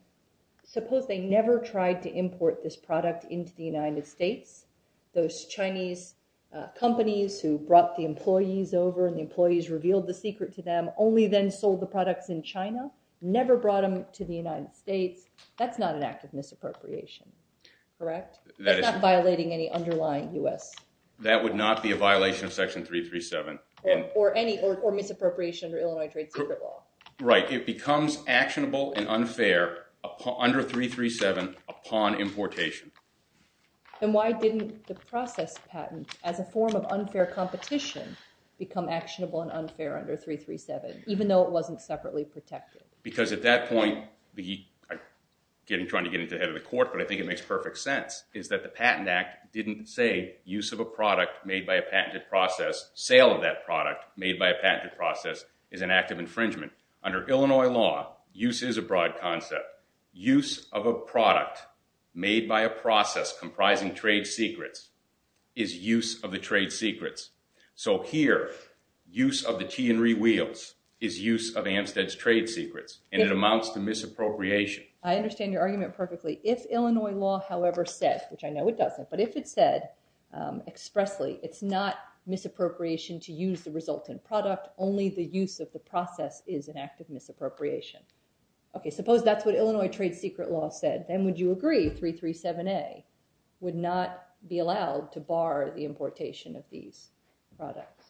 Suppose they never tried to import this product into the United States. Those Chinese companies who brought the employees over and the employees revealed the secret to them, only then sold the products in China, never brought them to the United States. That's not an act of misappropriation. Correct? That is not violating any underlying US. That would not be a violation of Section 337. Or any misappropriation under Illinois trade secret law. Right, it becomes actionable and unfair under 337 upon importation. Then why didn't the process patent, as a form of unfair competition, become actionable and unfair under 337, even though it wasn't separately protected? Because at that point, I'm trying to get into the head of the court, but I think it makes perfect sense, is that the Patent Act didn't say use of a product made by a patented process, sale of that product made by a patented process, is an act of infringement. Under Illinois law, use is a broad concept. Use of a product made by a process comprising trade secrets is use of the trade secrets. So here, use of the tea and rewheels is use of Amsted's trade secrets. And it amounts to misappropriation. I understand your argument perfectly. If Illinois law, however, said, which I know it doesn't, but if it said expressly, it's not misappropriation to use the resultant product, only the use of the process is an act of misappropriation. OK, suppose that's what Illinois trade secret law said. Then would you agree 337A would not be allowed to bar the importation of these products?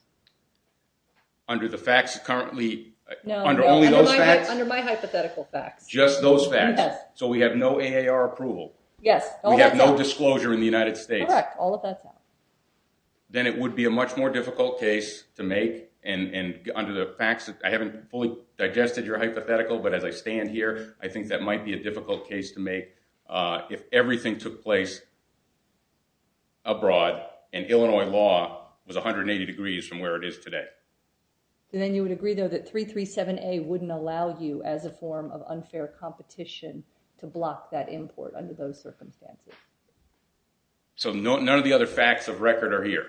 Under the facts currently, under only those facts? Under my hypothetical facts. Just those facts? So we have no AAR approval. Yes. We have no disclosure in the United States. Correct. All of that's out. Then it would be a much more difficult case to make. And under the facts, I haven't fully digested your hypothetical. But as I stand here, I think that might be a difficult case to make if everything took place abroad, and Illinois law was 180 degrees from where it is today. Then you would agree, though, that 337A wouldn't allow you, as a form of unfair competition, to block that import under those circumstances. So none of the other facts of record are here?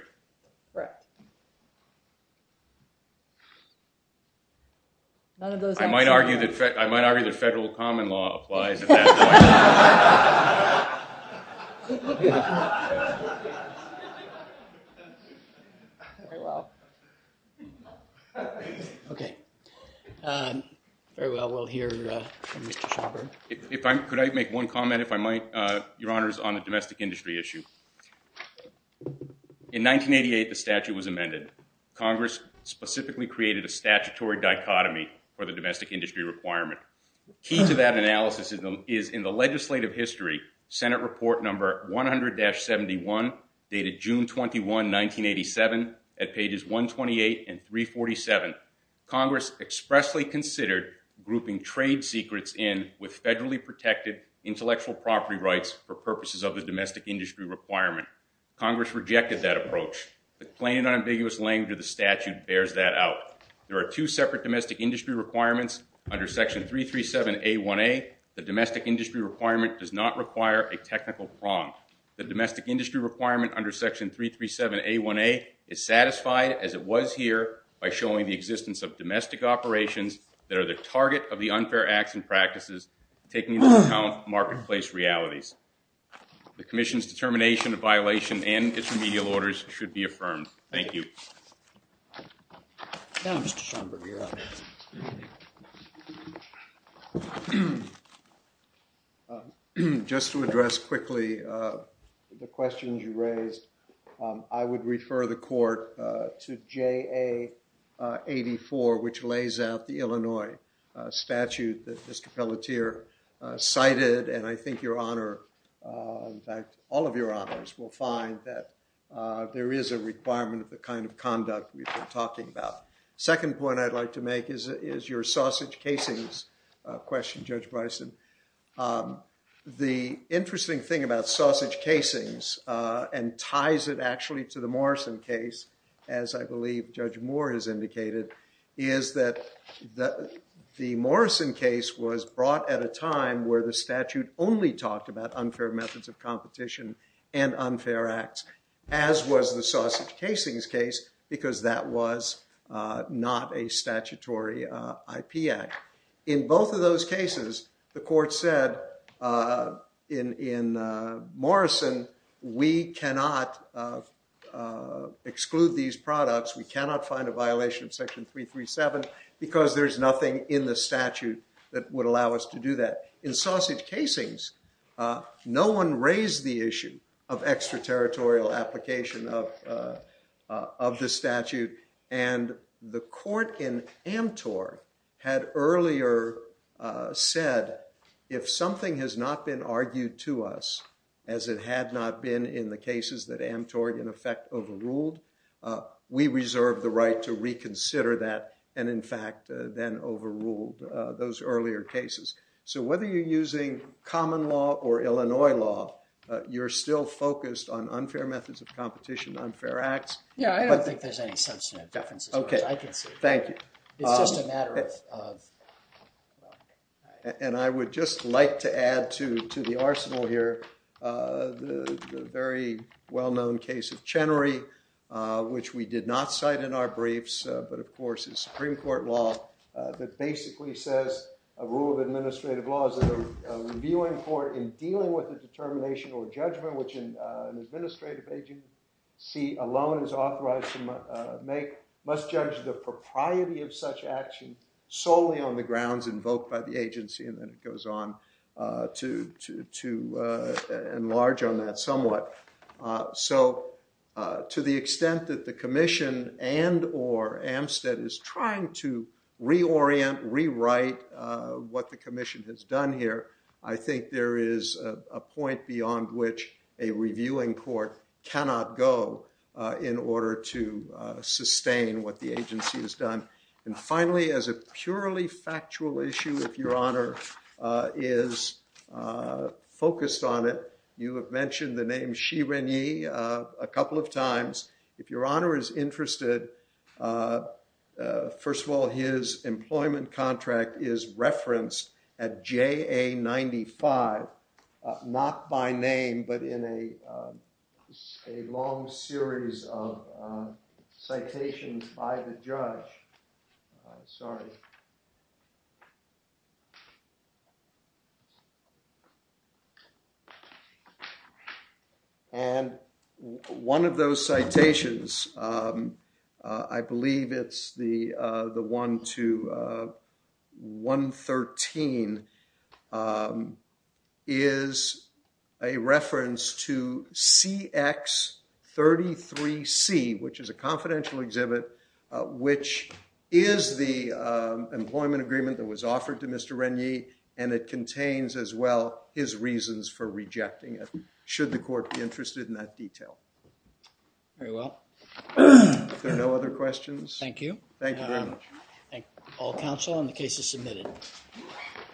None of those facts are here. I might argue that federal common law applies at that point. OK. OK. Very well. We'll hear from Mr. Schaffer. Could I make one comment, if I might, Your Honors, on the domestic industry issue? In 1988, the statute was amended. Congress specifically created a statutory dichotomy for the domestic industry requirement. Key to that analysis is in the legislative history, Senate Report Number 100-71, dated June 21, 1987, at pages 128 and 347. Congress expressly considered grouping trade secrets in with federally protected intellectual property rights for purposes of the domestic industry requirement. Congress rejected that approach. The plain and unambiguous language of the statute bears that out. There are two separate domestic industry requirements under Section 337A1A. The domestic industry requirement does not require a technical prong. The domestic industry requirement under Section 337A1A is satisfied, as it was here, by showing the existence of domestic operations that are the target of the unfair acts and practices, taking into account marketplace realities. The commission's determination of violation and intermedial orders should be affirmed. Thank you. Now, Mr. Schomburg, you're up. Just to address quickly the questions you raised, I would refer the court to JA84, which lays out the Illinois statute that Mr. Pelletier cited. And I think your honor, in fact, all of your honors will find that there is a requirement of the kind of conduct we've been talking about. Second point I'd like to make is your sausage casings question, Judge Bryson. The interesting thing about sausage casings, and ties it actually to the Morrison case, as I believe Judge Moore has indicated, is that the Morrison case was brought at a time where the statute only talked about unfair methods of competition and unfair acts, as was the sausage casings case, because that was not a statutory IP act. In both of those cases, the court said, in Morrison, we cannot exclude these products. We cannot find a violation of section 337, because there is nothing in the statute that would allow us to do that. In sausage casings, no one raised the issue of extraterritorial application of the statute. And the court in Amtor had earlier said, if something has not been argued to us, as it had not been in the cases that Amtor, in effect, overruled, we reserve the right to reconsider that, and in fact, then overruled those earlier cases. So whether you're using common law or Illinois law, you're still focused on unfair methods of competition, unfair acts. Yeah, I don't think there's any substantive differences, which I can see. Thank you. It's just a matter of, well, OK. And I would just like to add to the arsenal here the very well-known case of Chenery, which we did not cite in our briefs, but of course, is Supreme Court law that basically says a rule of administrative law is a reviewing court in dealing with the determination or judgment which an administrative agency alone is authorized to make must judge the propriety of such action solely on the grounds invoked by the agency. And then it goes on to enlarge on that somewhat. So to the extent that the commission and or Amsted is trying to reorient, rewrite what the commission has done here, I think there is a point beyond which a reviewing court cannot go in order to sustain what the agency has done. And finally, as a purely factual issue, if Your Honor is focused on it, you have mentioned the name Xi Renyi a couple of times. If Your Honor is interested, first of all, his employment contract is referenced at JA 95, not by name, but in a long series of citations by the judge. Sorry. Sorry. And one of those citations, I believe it's the one to 113, is a reference to CX 33C, which is a confidential exhibit, which is the employment agreement that was offered to Mr. Renyi. And it contains, as well, his reasons for rejecting it, should the court be interested in that detail. Very well. If there are no other questions. Thank you. Thank you very much. All counsel on the case is submitted.